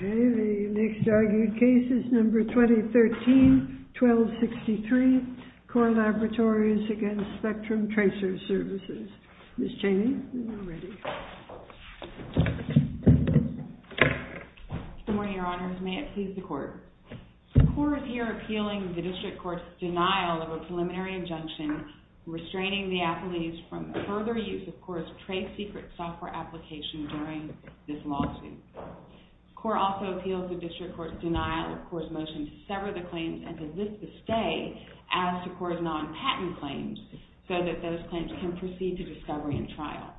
Okay, the next argued case is number 2013-1263, CORE Laboratories against Spectrum Tracer Services. Ms. Cheney, are you ready? Good morning, Your Honors. May it please the Court. The CORE is here appealing the District Court's denial of a preliminary injunction restraining the athletes from further use of CORE's trade secret software application during this lawsuit. CORE also appeals the District Court's denial of CORE's motion to sever the claims and to lift the stay as to CORE's non-patent claims so that those claims can proceed to discovery and trial.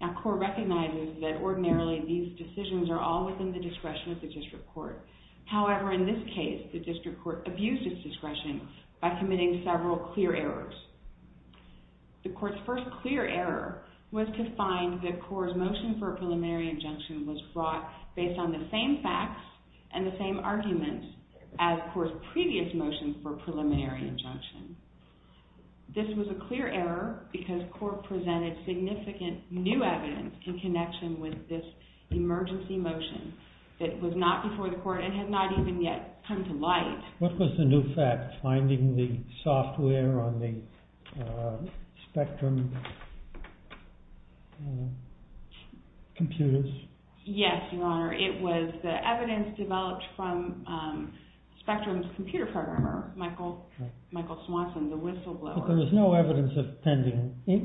Now, CORE recognizes that ordinarily these decisions are all within the discretion of the District Court. However, in this case, the District Court abused its discretion by committing several clear errors. The Court's first clear error was to find that CORE's motion for a preliminary injunction was brought based on the same facts and the same argument as CORE's previous motion for a preliminary injunction. This was a clear error because CORE presented significant new evidence in connection with this emergency motion that was not before the Court and had not even yet come to light. What was the new fact, finding the software on the Spectrum computers? Yes, Your Honor. It was the evidence developed from Spectrum's computer programmer, Michael Swanson, the whistleblower. But there was no evidence of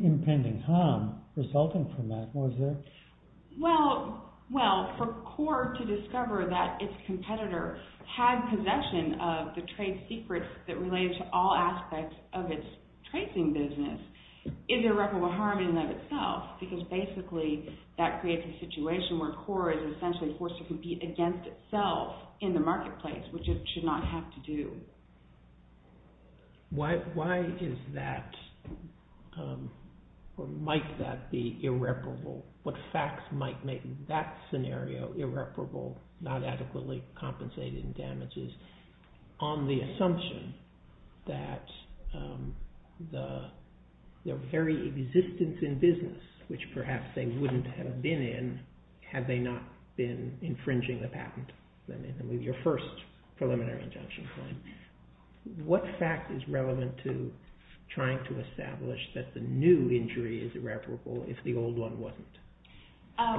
impending harm resulting from that, was there? Well, for CORE to discover that its competitor had possession of the trade secrets that related to all aspects of its tracing business is irreparable harm in and of itself because basically that creates a situation where CORE is essentially forced to compete against itself in the marketplace, which it should not have to do. Why is that or might that be irreparable? What facts might make that scenario irreparable, not adequately compensated in damages? On the assumption that their very existence in business, which perhaps they wouldn't have been in had they not been infringing the patent, your first preliminary injunction claim, what fact is relevant to trying to establish that the new injury is irreparable if the old one wasn't?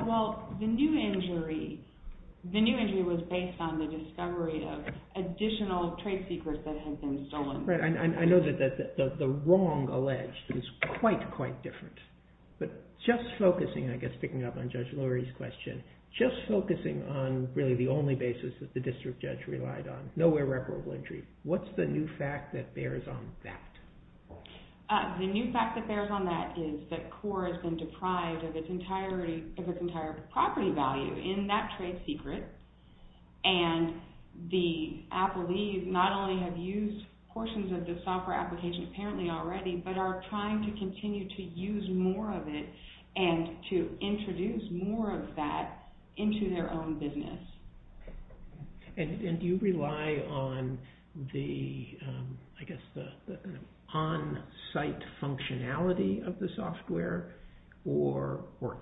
Well, the new injury was based on the discovery of additional trade secrets that had been stolen. Right, and I know that the wrong alleged is quite, quite different. But just focusing, I guess picking up on Judge Lurie's question, just focusing on really the only basis that the district judge relied on, no irreparable injury, what's the new fact that bears on that? The new fact that bears on that is that CORE has been deprived of its entire property value in that trade secret and the appellees not only have used portions of the software application apparently already, but are trying to continue to use more of it and to introduce more of that into their own business. And do you rely on the, I guess the on-site functionality of the software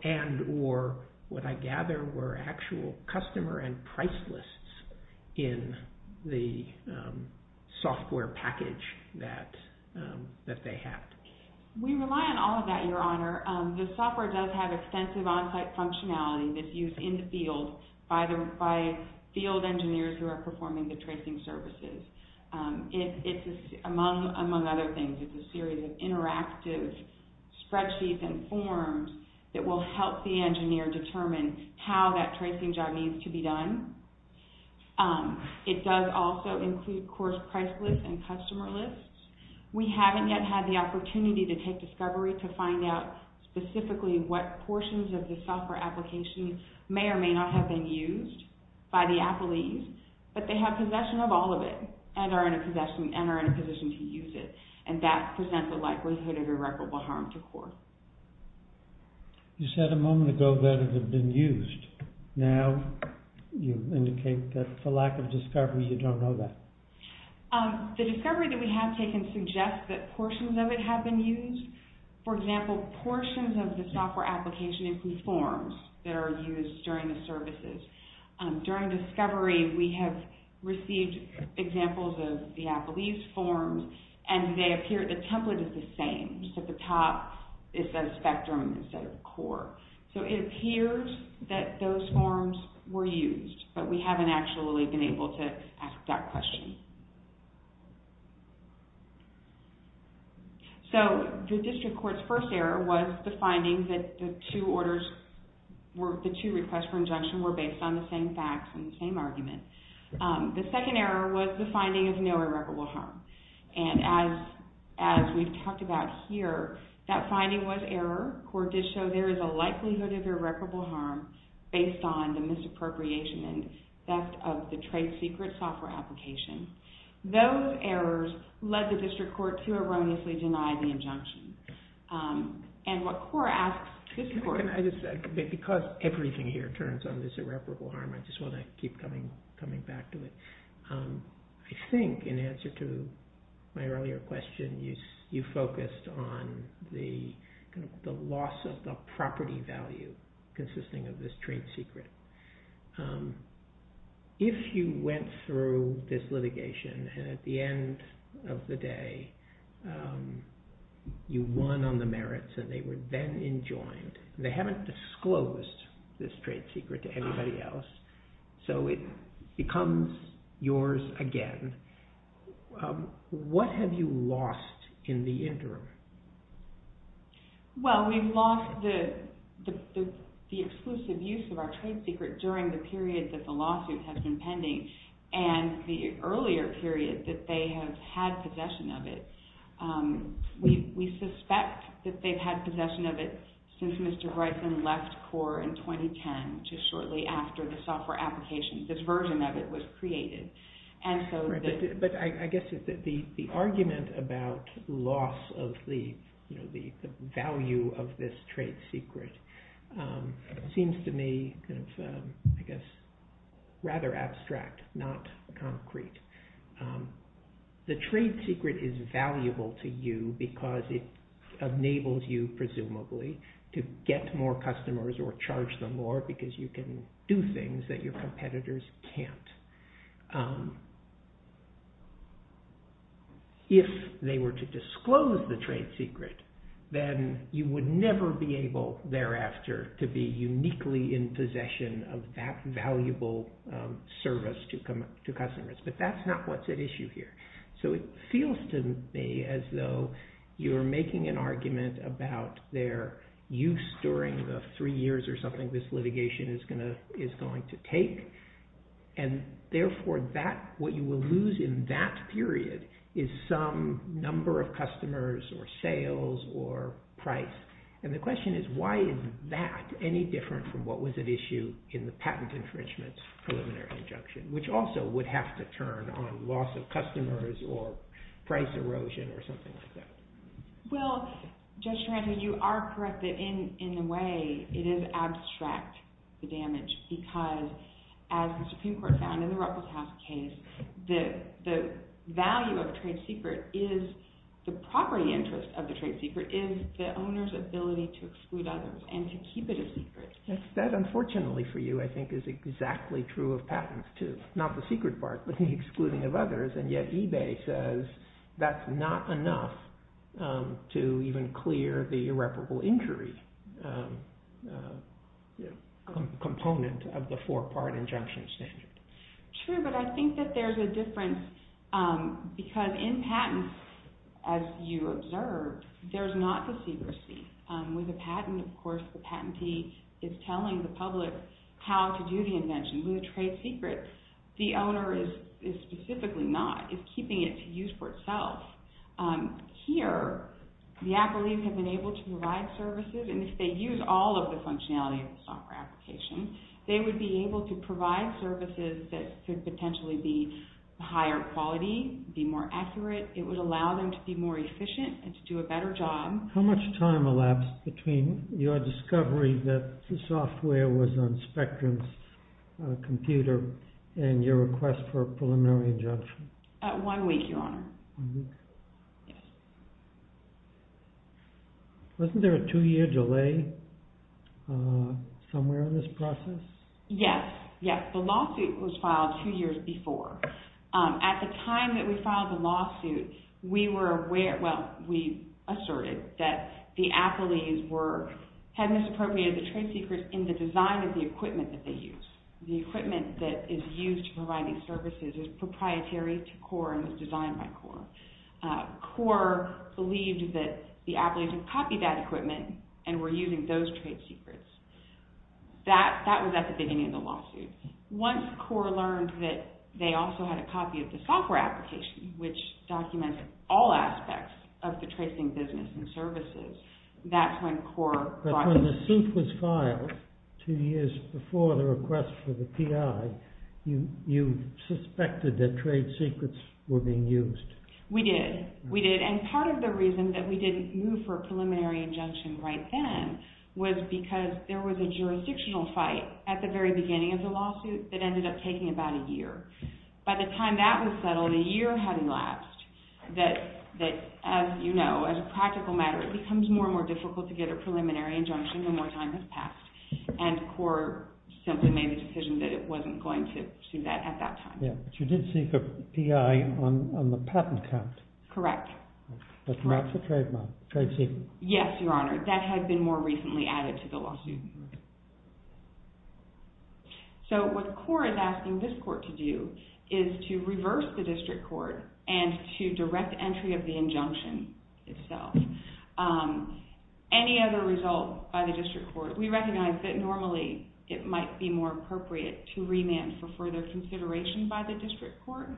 and or what I gather were actual customer and price lists in the software package that they had? We rely on all of that, Your Honor. The software does have extensive on-site functionality that's used in the field by field engineers who are performing the tracing services. It's among other things, it's a series of interactive spreadsheets and forms that will help the engineer determine how that tracing job needs to be done. It does also include CORE's price lists and customer lists. We haven't yet had the opportunity to take discovery to find out specifically what portions of the software application may or may not have been used by the appellees, but they have possession of all of it and are in a position to use it and that presents a likelihood of irreparable harm to CORE. You said a moment ago that it had been used. Now you indicate that for lack of discovery you don't know that. The discovery that we have taken suggests that portions of it have been used. For example, portions of the software application include forms that are used during the services. During discovery we have received examples of the appellee's forms and they appear, the template is the same, just at the top it says spectrum instead of CORE. It appears that those forms were used, but we haven't actually been able to ask that question. The District Court's first error was the finding that the two requests for injunction were based on the same facts and the same argument. The second error was the finding of no irreparable harm. As we've talked about here, that finding was error. CORE did show there is a likelihood of irreparable harm based on the misappropriation and theft of the trade secret software application. Those errors led the District Court to erroneously deny the injunction. Because everything here turns on this irreparable harm, I just want to keep coming back to it. I think in answer to my earlier question, you focused on the loss of the property value consisting of this trade secret. If you went through this litigation and at the end of the day you won on the merits and they were then enjoined, they haven't disclosed this trade secret to anybody else, so it becomes yours again. What have you lost in the interim? Well, we've lost the exclusive use of our trade secret during the period that the lawsuit has been pending and the earlier period that they have had possession of it. We suspect that they've had possession of it since Mr. Bryson left CORE in 2010, which is shortly after the software application, this version of it was created. I guess the argument about loss of the value of this trade secret seems to me rather abstract, not concrete. The trade secret is valuable to you because it enables you, presumably, to get more customers or charge them more because you can do things that your competitors can't. If they were to disclose the trade secret, then you would never be able thereafter to be uniquely in possession of that valuable service to customers, but that's not what's at issue here. So it feels to me as though you're making an argument about their use during the three years or something this litigation is going to take, and therefore what you will lose in that period is some number of customers or sales or price, and the question is why is that any different from what was at issue in the patent infringement's preliminary injunction, which also would have to turn on loss of customers or price erosion or something like that. Well, Judge Taranto, you are correct that in a way it is abstract, the damage, because as the Supreme Court found in the Ruppelstaff case, the value of the trade secret is the property interest of the trade secret is the owner's ability to exclude others and to keep it a secret. That, unfortunately for you, I think is exactly true of patents, too. Not the secret part, but the excluding of others, and yet eBay says that's not enough to even clear the irreparable injury component of the four-part injunction standard. True, but I think that there's a difference because in patents, as you observed, there's not the secrecy. With a patent, of course, the patentee is telling the public how to do the invention. With a trade secret, the owner is specifically not, is keeping it to use for itself. Here, the accolades have been able to provide services, and if they use all of the functionality of the software application, they would be able to provide services that could potentially be higher quality, be more accurate, it would allow them to be more efficient and to do a better job. How much time elapsed between your discovery that the software was on Spectrum's computer and your request for a preliminary injunction? One week, Your Honor. One week? Yes. Wasn't there a two-year delay somewhere in this process? Yes, yes. The lawsuit was filed two years before. At the time that we filed the lawsuit, we asserted that the appellees had misappropriated the trade secrets in the design of the equipment that they used. The equipment that is used to provide these services is proprietary to CORE and was designed by CORE. CORE believed that the appellees had copied that equipment and were using those trade secrets. That was at the beginning of the lawsuit. Once CORE learned that they also had a copy of the software application, which documented all aspects of the tracing business and services, that's when CORE brought the suit. But when the suit was filed two years before the request for the PI, you suspected that trade secrets were being used. We did. We did. And part of the reason that we didn't move for a preliminary injunction right then was because there was a jurisdictional fight at the very beginning of the lawsuit that ended up taking about a year. By the time that was settled, a year had elapsed. That, as you know, as a practical matter, it becomes more and more difficult to get a preliminary injunction the more time has passed. And CORE simply made the decision that it wasn't going to do that at that time. But you did seek a PI on the patent count. Correct. That maps the trade secret. Yes, Your Honor. That had been more recently added to the lawsuit. So what CORE is asking this court to do is to reverse the district court and to direct entry of the injunction itself. Any other result by the district court, we recognize that normally it might be more appropriate to remand for further consideration by the district court.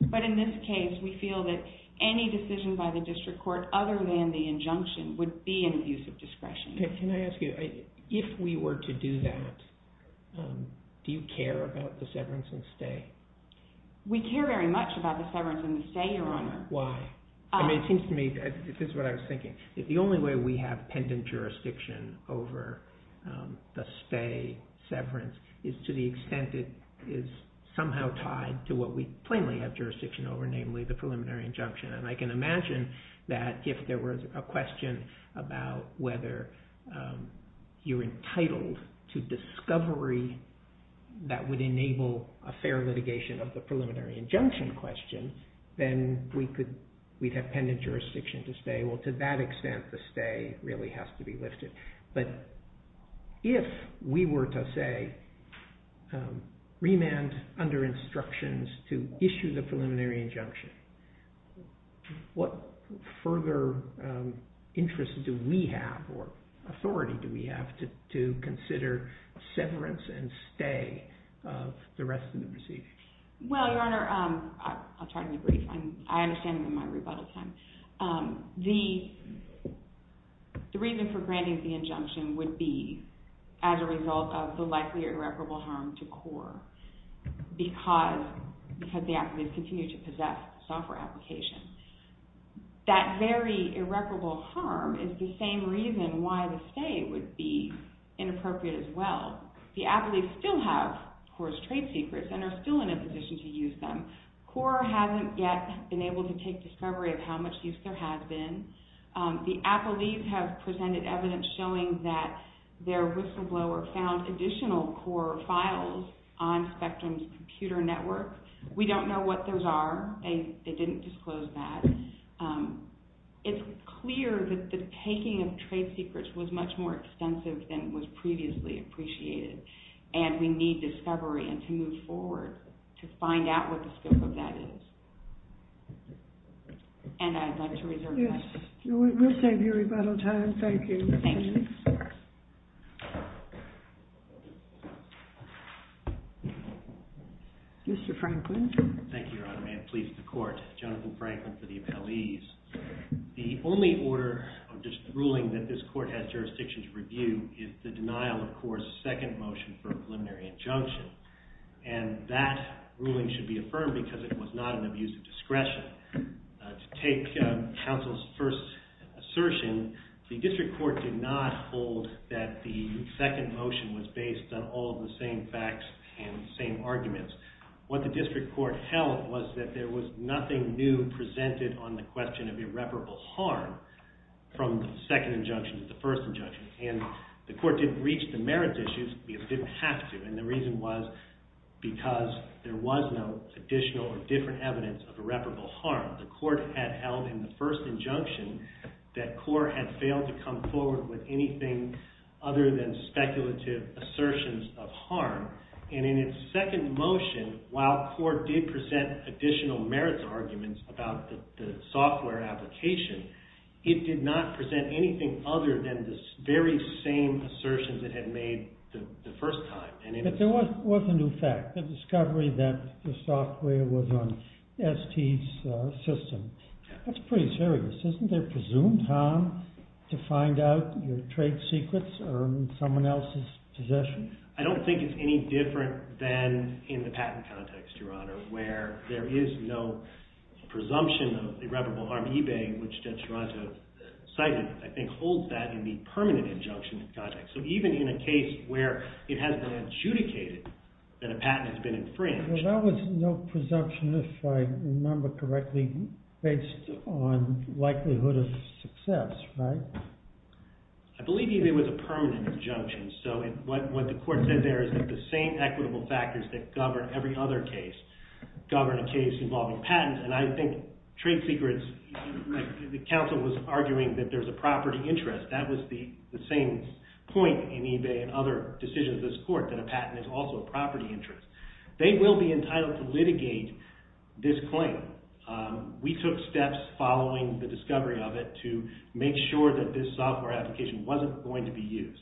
But in this case, we feel that any decision by the district court other than the injunction would be an abuse of discretion. Can I ask you, if we were to do that, do you care about the severance and stay? We care very much about the severance and the stay, Your Honor. Why? I mean, it seems to me, this is what I was thinking. The only way we have pendant jurisdiction over the stay, severance, is to the extent it is somehow tied to what we plainly have jurisdiction over, namely the preliminary injunction. And I can imagine that if there was a question about whether you're entitled to discovery that would enable a fair litigation of the preliminary injunction question, then we'd have pendant jurisdiction to stay. Well, to that extent, the stay really has to be lifted. But if we were to say, remand under instructions to issue the preliminary injunction, what further interest do we have or authority do we have to consider severance and stay of the rest of the proceedings? Well, Your Honor, I'll try to be brief. I understand my rebuttal time. The reason for granting the injunction would be as a result of the likely irreparable harm to CORE because the affidavits continue to possess software applications. That very irreparable harm is the same reason why the stay would be inappropriate as well. The affidavits still have CORE's trade secrets and are still in a position to use them. CORE hasn't yet been able to take discovery of how much use there has been. The appellees have presented evidence showing that their whistleblower found additional CORE files on Spectrum's computer network. We don't know what those are. They didn't disclose that. It's clear that the taking of trade secrets was much more extensive than was previously appreciated, and we need discovery and to move forward to find out what the scope of that is. And I'd like to reserve that. Yes, we'll save your rebuttal time. Thank you. Thank you. Mr. Franklin. Thank you, Your Honor. May it please the Court. Jonathan Franklin for the appellees. The only order or ruling that this Court has jurisdiction to review is the denial of CORE's second motion for a preliminary injunction. And that ruling should be affirmed because it was not an abuse of discretion. To take counsel's first assertion, the District Court did not hold that the second motion was based on all of the same facts and the same arguments. What the District Court held was that there was nothing new presented on the question of irreparable harm from the second injunction to the first injunction. And the Court didn't reach the merits issues because it didn't have to. And the reason was because there was no additional or different evidence of irreparable harm. The Court had held in the first injunction that CORE had failed to come forward with anything other than speculative assertions of harm. And in its second motion, while CORE did present additional merits arguments about the software application, it did not present anything other than the very same assertions it had made the first time. But there was a new fact, the discovery that the software was on ST's system. That's pretty serious. Isn't there presumed harm to find out your trade secrets or someone else's possessions? And I don't think it's any different than in the patent context, Your Honor, where there is no presumption of irreparable harm. eBay, which Judge Gerardo cited, I think holds that in the permanent injunction context. So even in a case where it has been adjudicated that a patent has been infringed. Well, that was no presumption, if I remember correctly, based on likelihood of success, right? I believe eBay was a permanent injunction. So what the court said there is that the same equitable factors that govern every other case govern a case involving patents. And I think trade secrets, the counsel was arguing that there's a property interest. That was the same point in eBay and other decisions of this court, that a patent is also a property interest. They will be entitled to litigate this claim. We took steps following the discovery of it to make sure that this software application wasn't going to be used.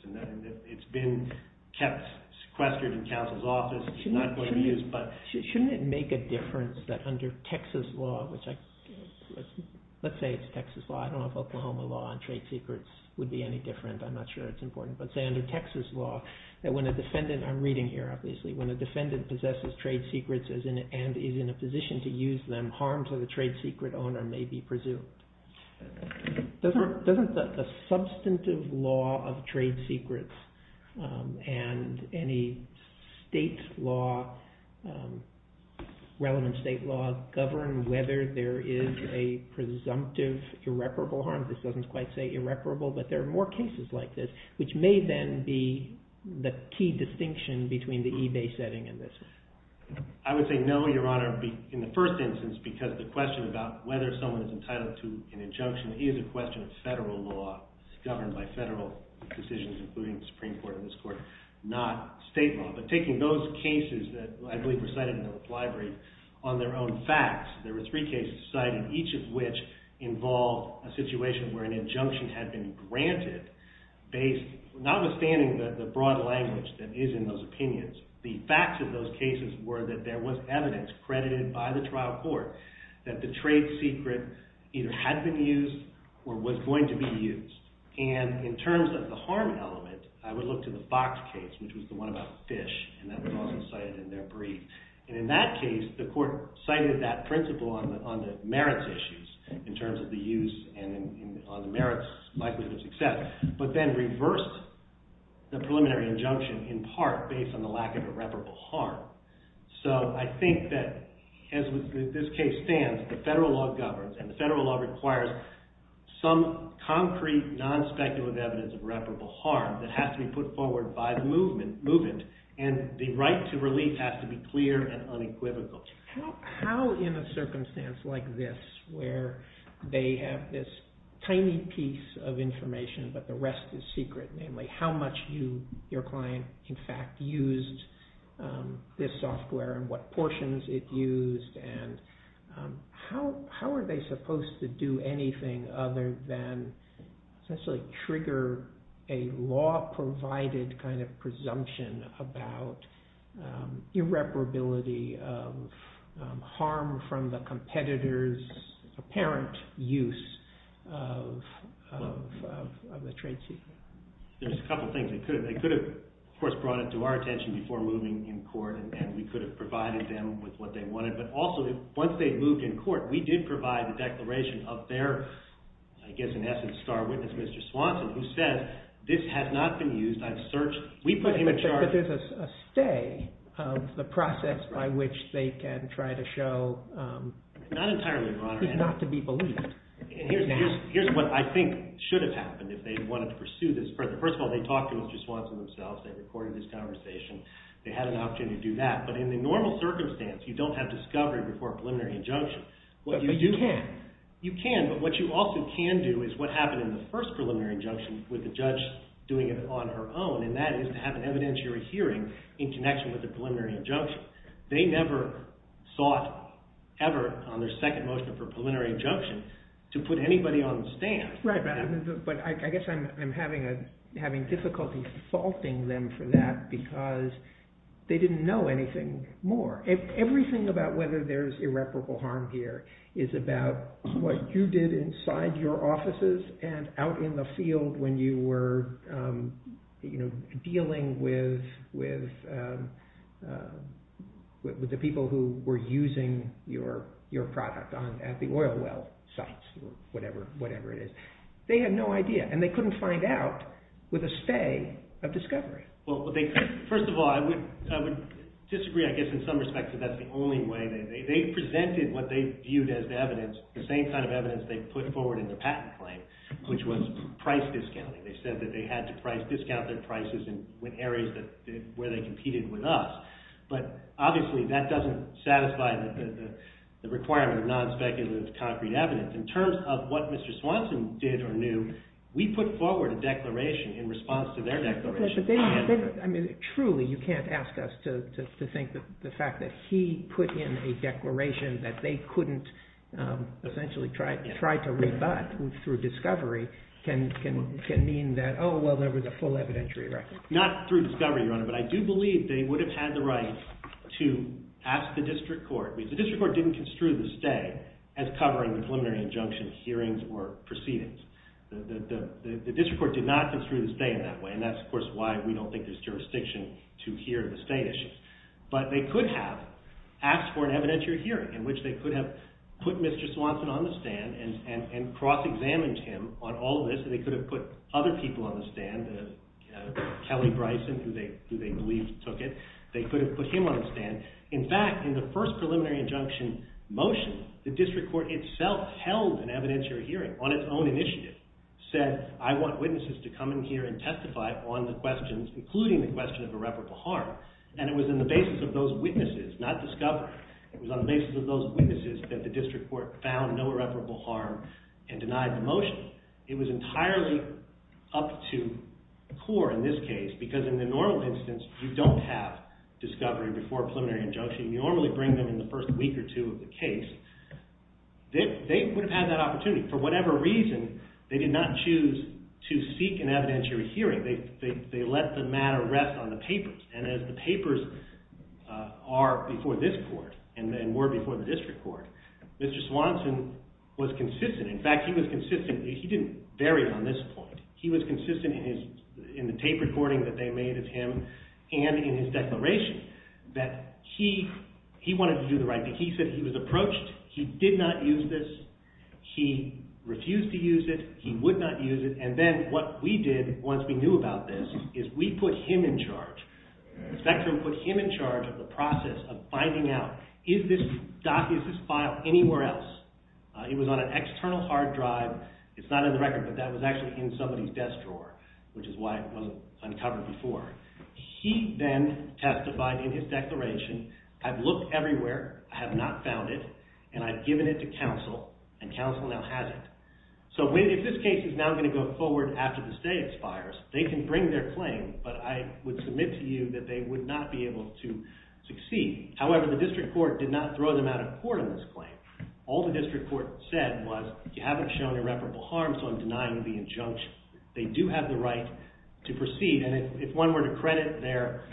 It's been sequestered in counsel's office. It's not going to be used. Shouldn't it make a difference that under Texas law, which let's say it's Texas law. I don't know if Oklahoma law on trade secrets would be any different. I'm not sure it's important. But say under Texas law, that when a defendant, I'm reading here obviously, when a defendant possesses trade secrets and is in a position to use them, harm to the trade secret owner may be presumed. Doesn't the substantive law of trade secrets and any state law, relevant state law, govern whether there is a presumptive irreparable harm? This doesn't quite say irreparable, but there are more cases like this, which may then be the key distinction between the eBay setting and this one. I would say no, Your Honor, in the first instance, because the question about whether someone is entitled to an injunction is a question of federal law governed by federal decisions, including the Supreme Court and this court, not state law. But taking those cases that I believe were cited in the library on their own facts, there were three cases cited, each of which involved a situation where an injunction had been granted based, notwithstanding the broad language that is in those opinions, the facts of those cases either had been used or was going to be used. And in terms of the harm element, I would look to the Fox case, which was the one about fish, and that was also cited in their brief. And in that case, the court cited that principle on the merits issues, in terms of the use and on the merits likelihood of success, but then reversed the preliminary injunction in part based on the lack of irreparable harm. So I think that as this case stands, the federal law governs and the federal law requires some concrete, non-speculative evidence of irreparable harm that has to be put forward by the movement and the right to relief has to be clear and unequivocal. How in a circumstance like this, where they have this tiny piece of information, but the portions it used, and how are they supposed to do anything other than essentially trigger a law-provided kind of presumption about irreparability of harm from the competitor's apparent use of the trade secret? There's a couple of things. They could have, of course, brought it to our attention before moving in court, and we could have provided them with what they wanted. But also, once they moved in court, we did provide the declaration of their, I guess in essence, star witness, Mr. Swanson, who said, this has not been used. I've searched. We put him in charge. But there's a stay of the process by which they can try to show not to be believed. And here's what I think should have happened if they wanted to pursue this further. First of all, they talked to Mr. Swanson themselves. They recorded this conversation. They had an opportunity to do that. But in the normal circumstance, you don't have discovery before a preliminary injunction. But you can. You can, but what you also can do is what happened in the first preliminary injunction with the judge doing it on her own, and that is to have an evidentiary hearing in connection with the preliminary injunction. They never sought ever, on their second motion for preliminary injunction, to put anybody on the stand. But I guess I'm having difficulty faulting them for that because they didn't know anything more. Everything about whether there's irreparable harm here is about what you did inside your offices and out in the field when you were dealing with the people who were using your product at the oil well sites or whatever it is. They had no idea. And they couldn't find out with a stay of discovery. First of all, I would disagree, I guess, in some respects, that that's the only way. They presented what they viewed as evidence, the same kind of evidence they put forward in the patent claim, which was price discounting. They said that they had to discount their prices in areas where they competed with us. But obviously, that doesn't satisfy the requirement of non-speculative concrete evidence. In terms of what Mr. Swanson did or knew, we put forward a declaration in response to their declaration. I mean, truly, you can't ask us to think that the fact that he put in a declaration that they couldn't essentially try to rebut through discovery can mean that, oh, well, there was a full evidentiary record. Not through discovery, Your Honor, but I do believe they would have had the right to ask the district court. I mean, the district court didn't construe the stay as covering the preliminary injunction hearings or proceedings. The district court did not construe the stay in that way. And that's, of course, why we don't think there's jurisdiction to hear the stay issues. But they could have asked for an evidentiary hearing in which they could have put Mr. Swanson on the stand and cross-examined him on all this. They could have put other people on the stand, Kelly Bryson, who they believe took it. They could have put him on the stand. In fact, in the first preliminary injunction motion, the district court itself held an evidentiary hearing on its own initiative, said, I want witnesses to come in here and testify on the questions, including the question of irreparable harm. And it was in the basis of those witnesses, not discovery, it was on the basis of those witnesses that the district court found no irreparable harm and denied the motion. It was entirely up to the court in this case, because in the normal instance, you don't have discovery before a preliminary injunction. You normally bring them in the first week or two of the case. They would have had that opportunity. For whatever reason, they did not choose to seek an evidentiary hearing. They let the matter rest on the papers. And as the papers are before this court and were before the district court, Mr. Swanson was consistent. In fact, he was consistent. He didn't vary on this point. He was consistent in the tape recording that they made of him and in his declaration that he wanted to do the right thing. He said he was approached. He did not use this. He refused to use it. He would not use it. And then what we did, once we knew about this, is we put him in charge. The spectrum put him in charge of the process of finding out, is this file anywhere else? It was on an external hard drive. It's not in the record, but that was actually in somebody's desk drawer, which is why it wasn't uncovered before. He then testified in his declaration, I've looked everywhere. I have not found it. And I've given it to counsel, and counsel now has it. So if this case is now going to go forward after the stay expires, they can bring their claim, but I would submit to you that they would not be able to succeed. However, the district court did not throw them out of court on this claim. All the district court said was, you haven't shown irreparable harm, so I'm denying the injunction. They do have the right to proceed, and if one were to credit their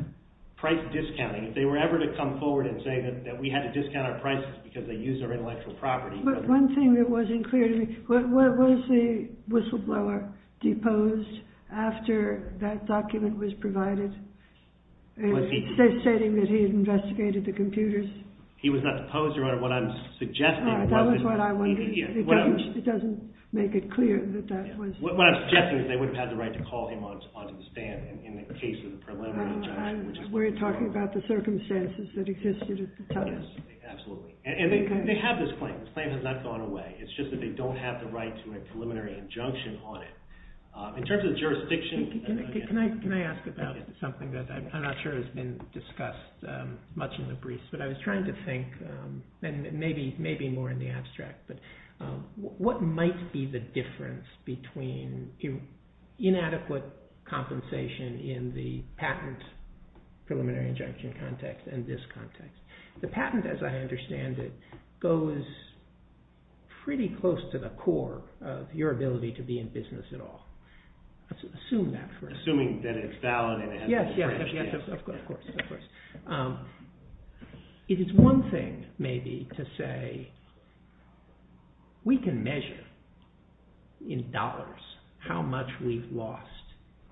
price discounting, if they were ever to come forward and say that we had to discount our prices because they used our intellectual property. One thing that wasn't clear to me, was the whistleblower deposed after that document was provided, stating that he had investigated the computers? He was not deposed, Your Honor. What I'm suggesting... That was what I wondered. It doesn't make it clear that that was... What I'm suggesting is they would have had the right to call him onto the stand in the case of the preliminary injunction. We're talking about the circumstances that existed at the time. Absolutely. And they have this claim. The claim has not gone away. It's just that they don't have the right to a preliminary injunction on it. In terms of the jurisdiction... Can I ask about something that I'm not sure has been discussed much in the briefs, but I was trying to think, and maybe more in the abstract, but what might be the difference between inadequate compensation in the patent preliminary injunction context and this context? The patent, as I understand it, goes pretty close to the core of your ability to be in business at all. Assume that for a second. Assuming that it's valid... Yes, of course. It is one thing, maybe, to say we can measure in dollars how much we've lost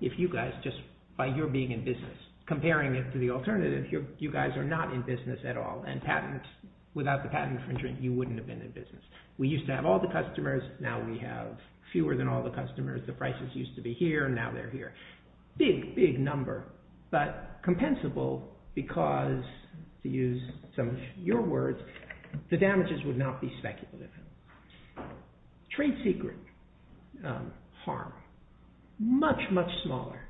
if you guys just, by your being in business, comparing it to the alternative, you guys are not in business at all, and without the patent infringement, you wouldn't have been in business. We used to have all the customers. Now we have fewer than all the customers. The prices used to be here, and now they're here. Big, big number, but compensable because, to use some of your words, the damages would not be speculative. Trade secret harm. Much, much smaller,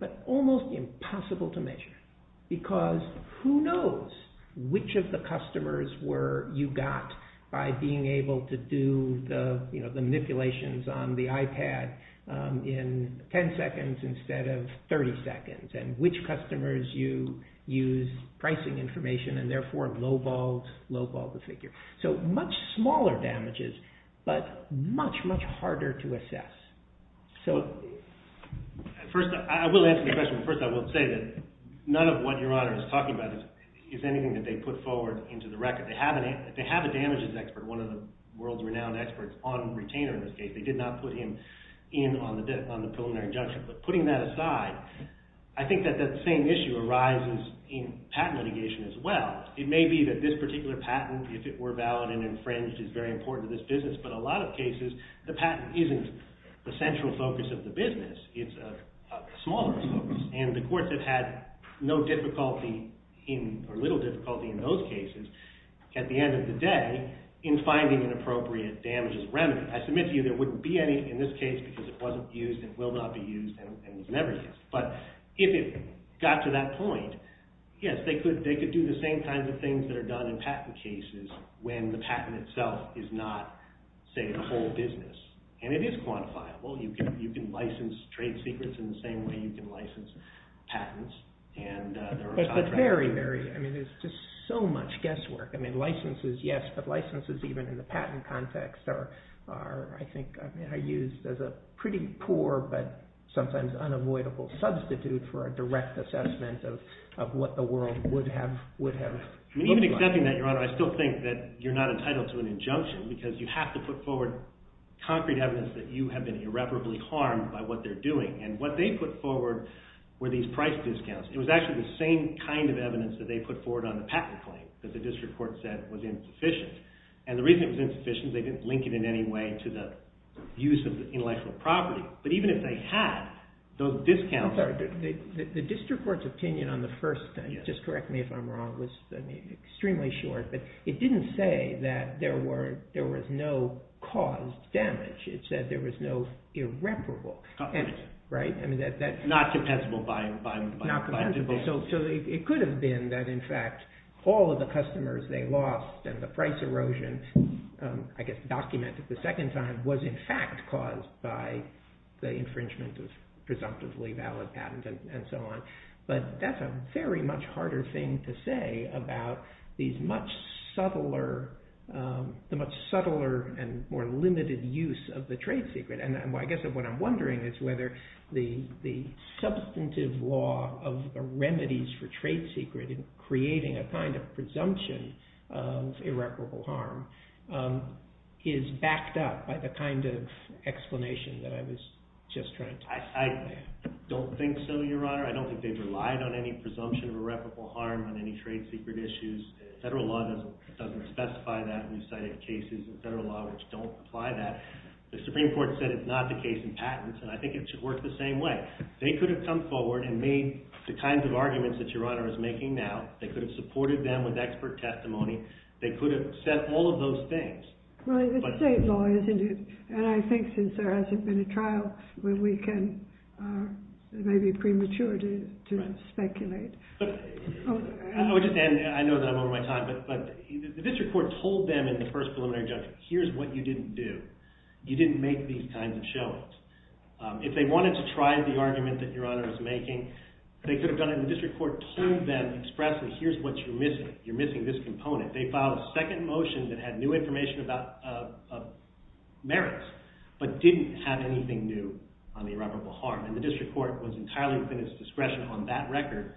but almost impossible to measure, because who knows which of the customers you use pricing information and, therefore, low-balled the figure. Much smaller damages, but much, much harder to assess. First, I will answer the question. First, I will say that none of what Your Honor is talking about is anything that they put forward into the record. They have a damages expert, one of the world's renowned experts on retainer, in this case. They did not put him in on the preliminary judgment, but putting that aside, I think that that same issue arises in patent litigation as well. It may be that this particular patent, if it were valid and infringed, is very important to this business, but a lot of cases, the patent isn't the central focus of the business. It's a smaller focus, and the courts have had no difficulty in, or little difficulty in those cases, at the end of the day, in finding an appropriate damages remedy. I submit to you there wouldn't be any, in this case, because it wasn't used, it will not be used, and it was never used. But if it got to that point, yes, they could do the same kinds of things that are done in patent cases when the patent itself is not, say, the whole business. And it is quantifiable. You can license trade secrets in the same way you can license patents, and there are a lot of records. But very, very, I mean, there's just so much guesswork. I mean, licenses, yes, but licenses even in the patent context are, I think, are used as a pretty poor but sometimes unavoidable substitute for a direct assessment of what the world would have looked like. Even accepting that, Your Honor, I still think that you're not entitled to an injunction because you have to put forward concrete evidence that you have been irreparably harmed by what they're doing. And what they put forward were these price discounts. It was actually the same kind of evidence that they put forward on the patent claim that the district court said was insufficient. And the reason it was insufficient is they didn't link it in any way to the use of the intellectual property. But even if they had, those discounts... I'm sorry, the district court's opinion on the first thing, just correct me if I'm wrong, was extremely short, but it didn't say that there was no caused damage. It said there was no irreparable damage, right? Not compensable by... Not compensable. So it could have been that in fact all of the customers they lost and the price erosion, I guess documented the second time, was in fact caused by the infringement of presumptively valid patent and so on. But that's a very much harder thing to say about the much subtler and more limited use of the trade secret. And I guess what I'm wondering is whether the substantive law of the remedies for trade secret in creating a kind of presumption of irreparable harm is backed up by the kind of explanation that I was just trying to... I don't think so, Your Honor. I don't think they've relied on any presumption of irreparable harm on any trade secret issues. Federal law doesn't specify that. We've cited cases in federal law which don't apply that. The Supreme Court said it's not the case in patents, and I think it should work the same way. They could have come forward and made the kinds of arguments that Your Honor is making now. They could have supported them with expert testimony. They could have said all of those things. Well, it's state law, isn't it? And I think since there hasn't been a trial where we can... It may be premature to speculate. I know that I'm over my time, but the district court told them in the first preliminary judgment, here's what you didn't do. You didn't make these kinds of showings. If they wanted to try the argument that Your Honor is making, they could have done it in the district court, told them expressly, here's what you're missing. You're missing this component. They filed a second motion that had new information about merits, but didn't have anything new on the irreparable harm. And the district court was entirely within its discretion on that record,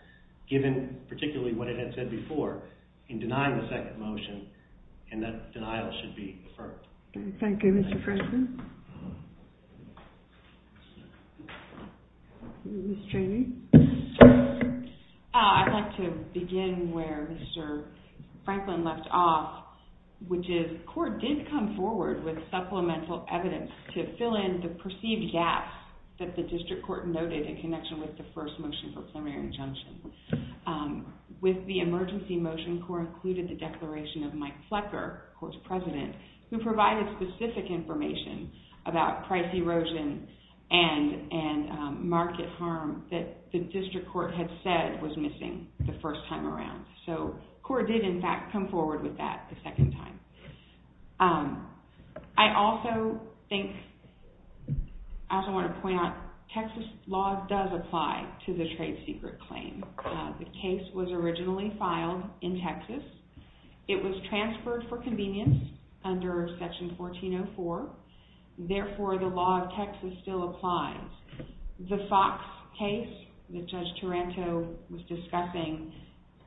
given particularly what it had said before, in denying the second motion. And that denial should be affirmed. Thank you, Mr. Franklin. Ms. Cheney. I'd like to begin where Mr. Franklin left off, which is the court did come forward with supplemental evidence to fill in the perceived gaps that the district court noted in connection with the first motion for preliminary injunction. With the emergency motion, CORE included the declaration of Mike Flecker, CORE's president, who provided specific information about price erosion and market harm that the district court had said was missing the first time around. So CORE did, in fact, come forward with that the second time. I also think, as I want to point out, Texas law does apply to the trade secret claim. The case was originally filed in Texas. It was transferred for convenience under Section 1404. Therefore, the law of Texas still applies. The Fox case that Judge Taranto was discussing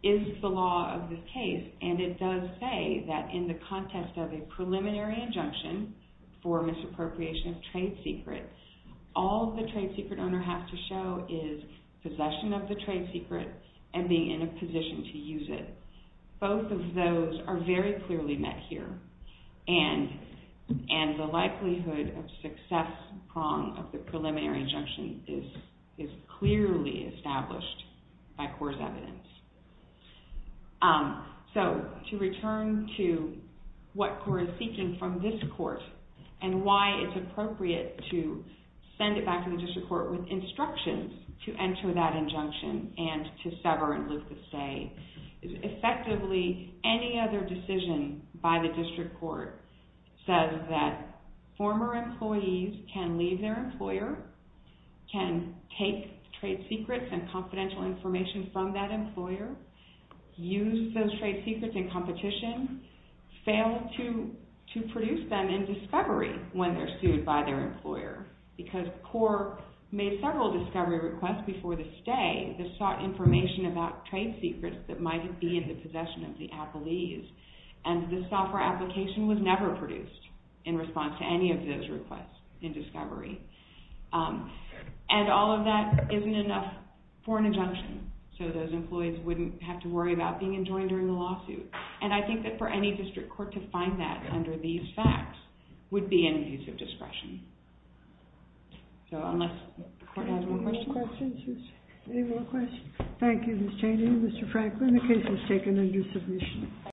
is the law of this case, and it does say that in the context of a preliminary injunction for misappropriation of trade secrets, all the trade secret owner has to show is possession of the trade secret and being in a position to use it. Both of those are very clearly met here, and the likelihood of success prong of the preliminary injunction is clearly established by CORE's evidence. So to return to what CORE is seeking from this court and why it's appropriate to send it back to the district court with instructions to enter that injunction and to sever and lose the say, effectively, any other decision by the district court says that former employees can leave their employer, can take trade secrets and confidential information from that employer, use those trade secrets in competition, fail to produce them in discovery when they're sued by their employer, because CORE made several discovery requests before this day that sought information about trade secrets that might be in the possession of the appellees, and this software application was never produced in response to any of those requests in discovery. And all of that isn't enough for an injunction. So those employees wouldn't have to worry about being enjoined during the lawsuit. And I think that for any district court to find that under these facts would be an abuse of discretion. So unless the court has more questions. Any more questions? Thank you, Ms. Chaney. Mr. Franklin, the case has taken a new submission.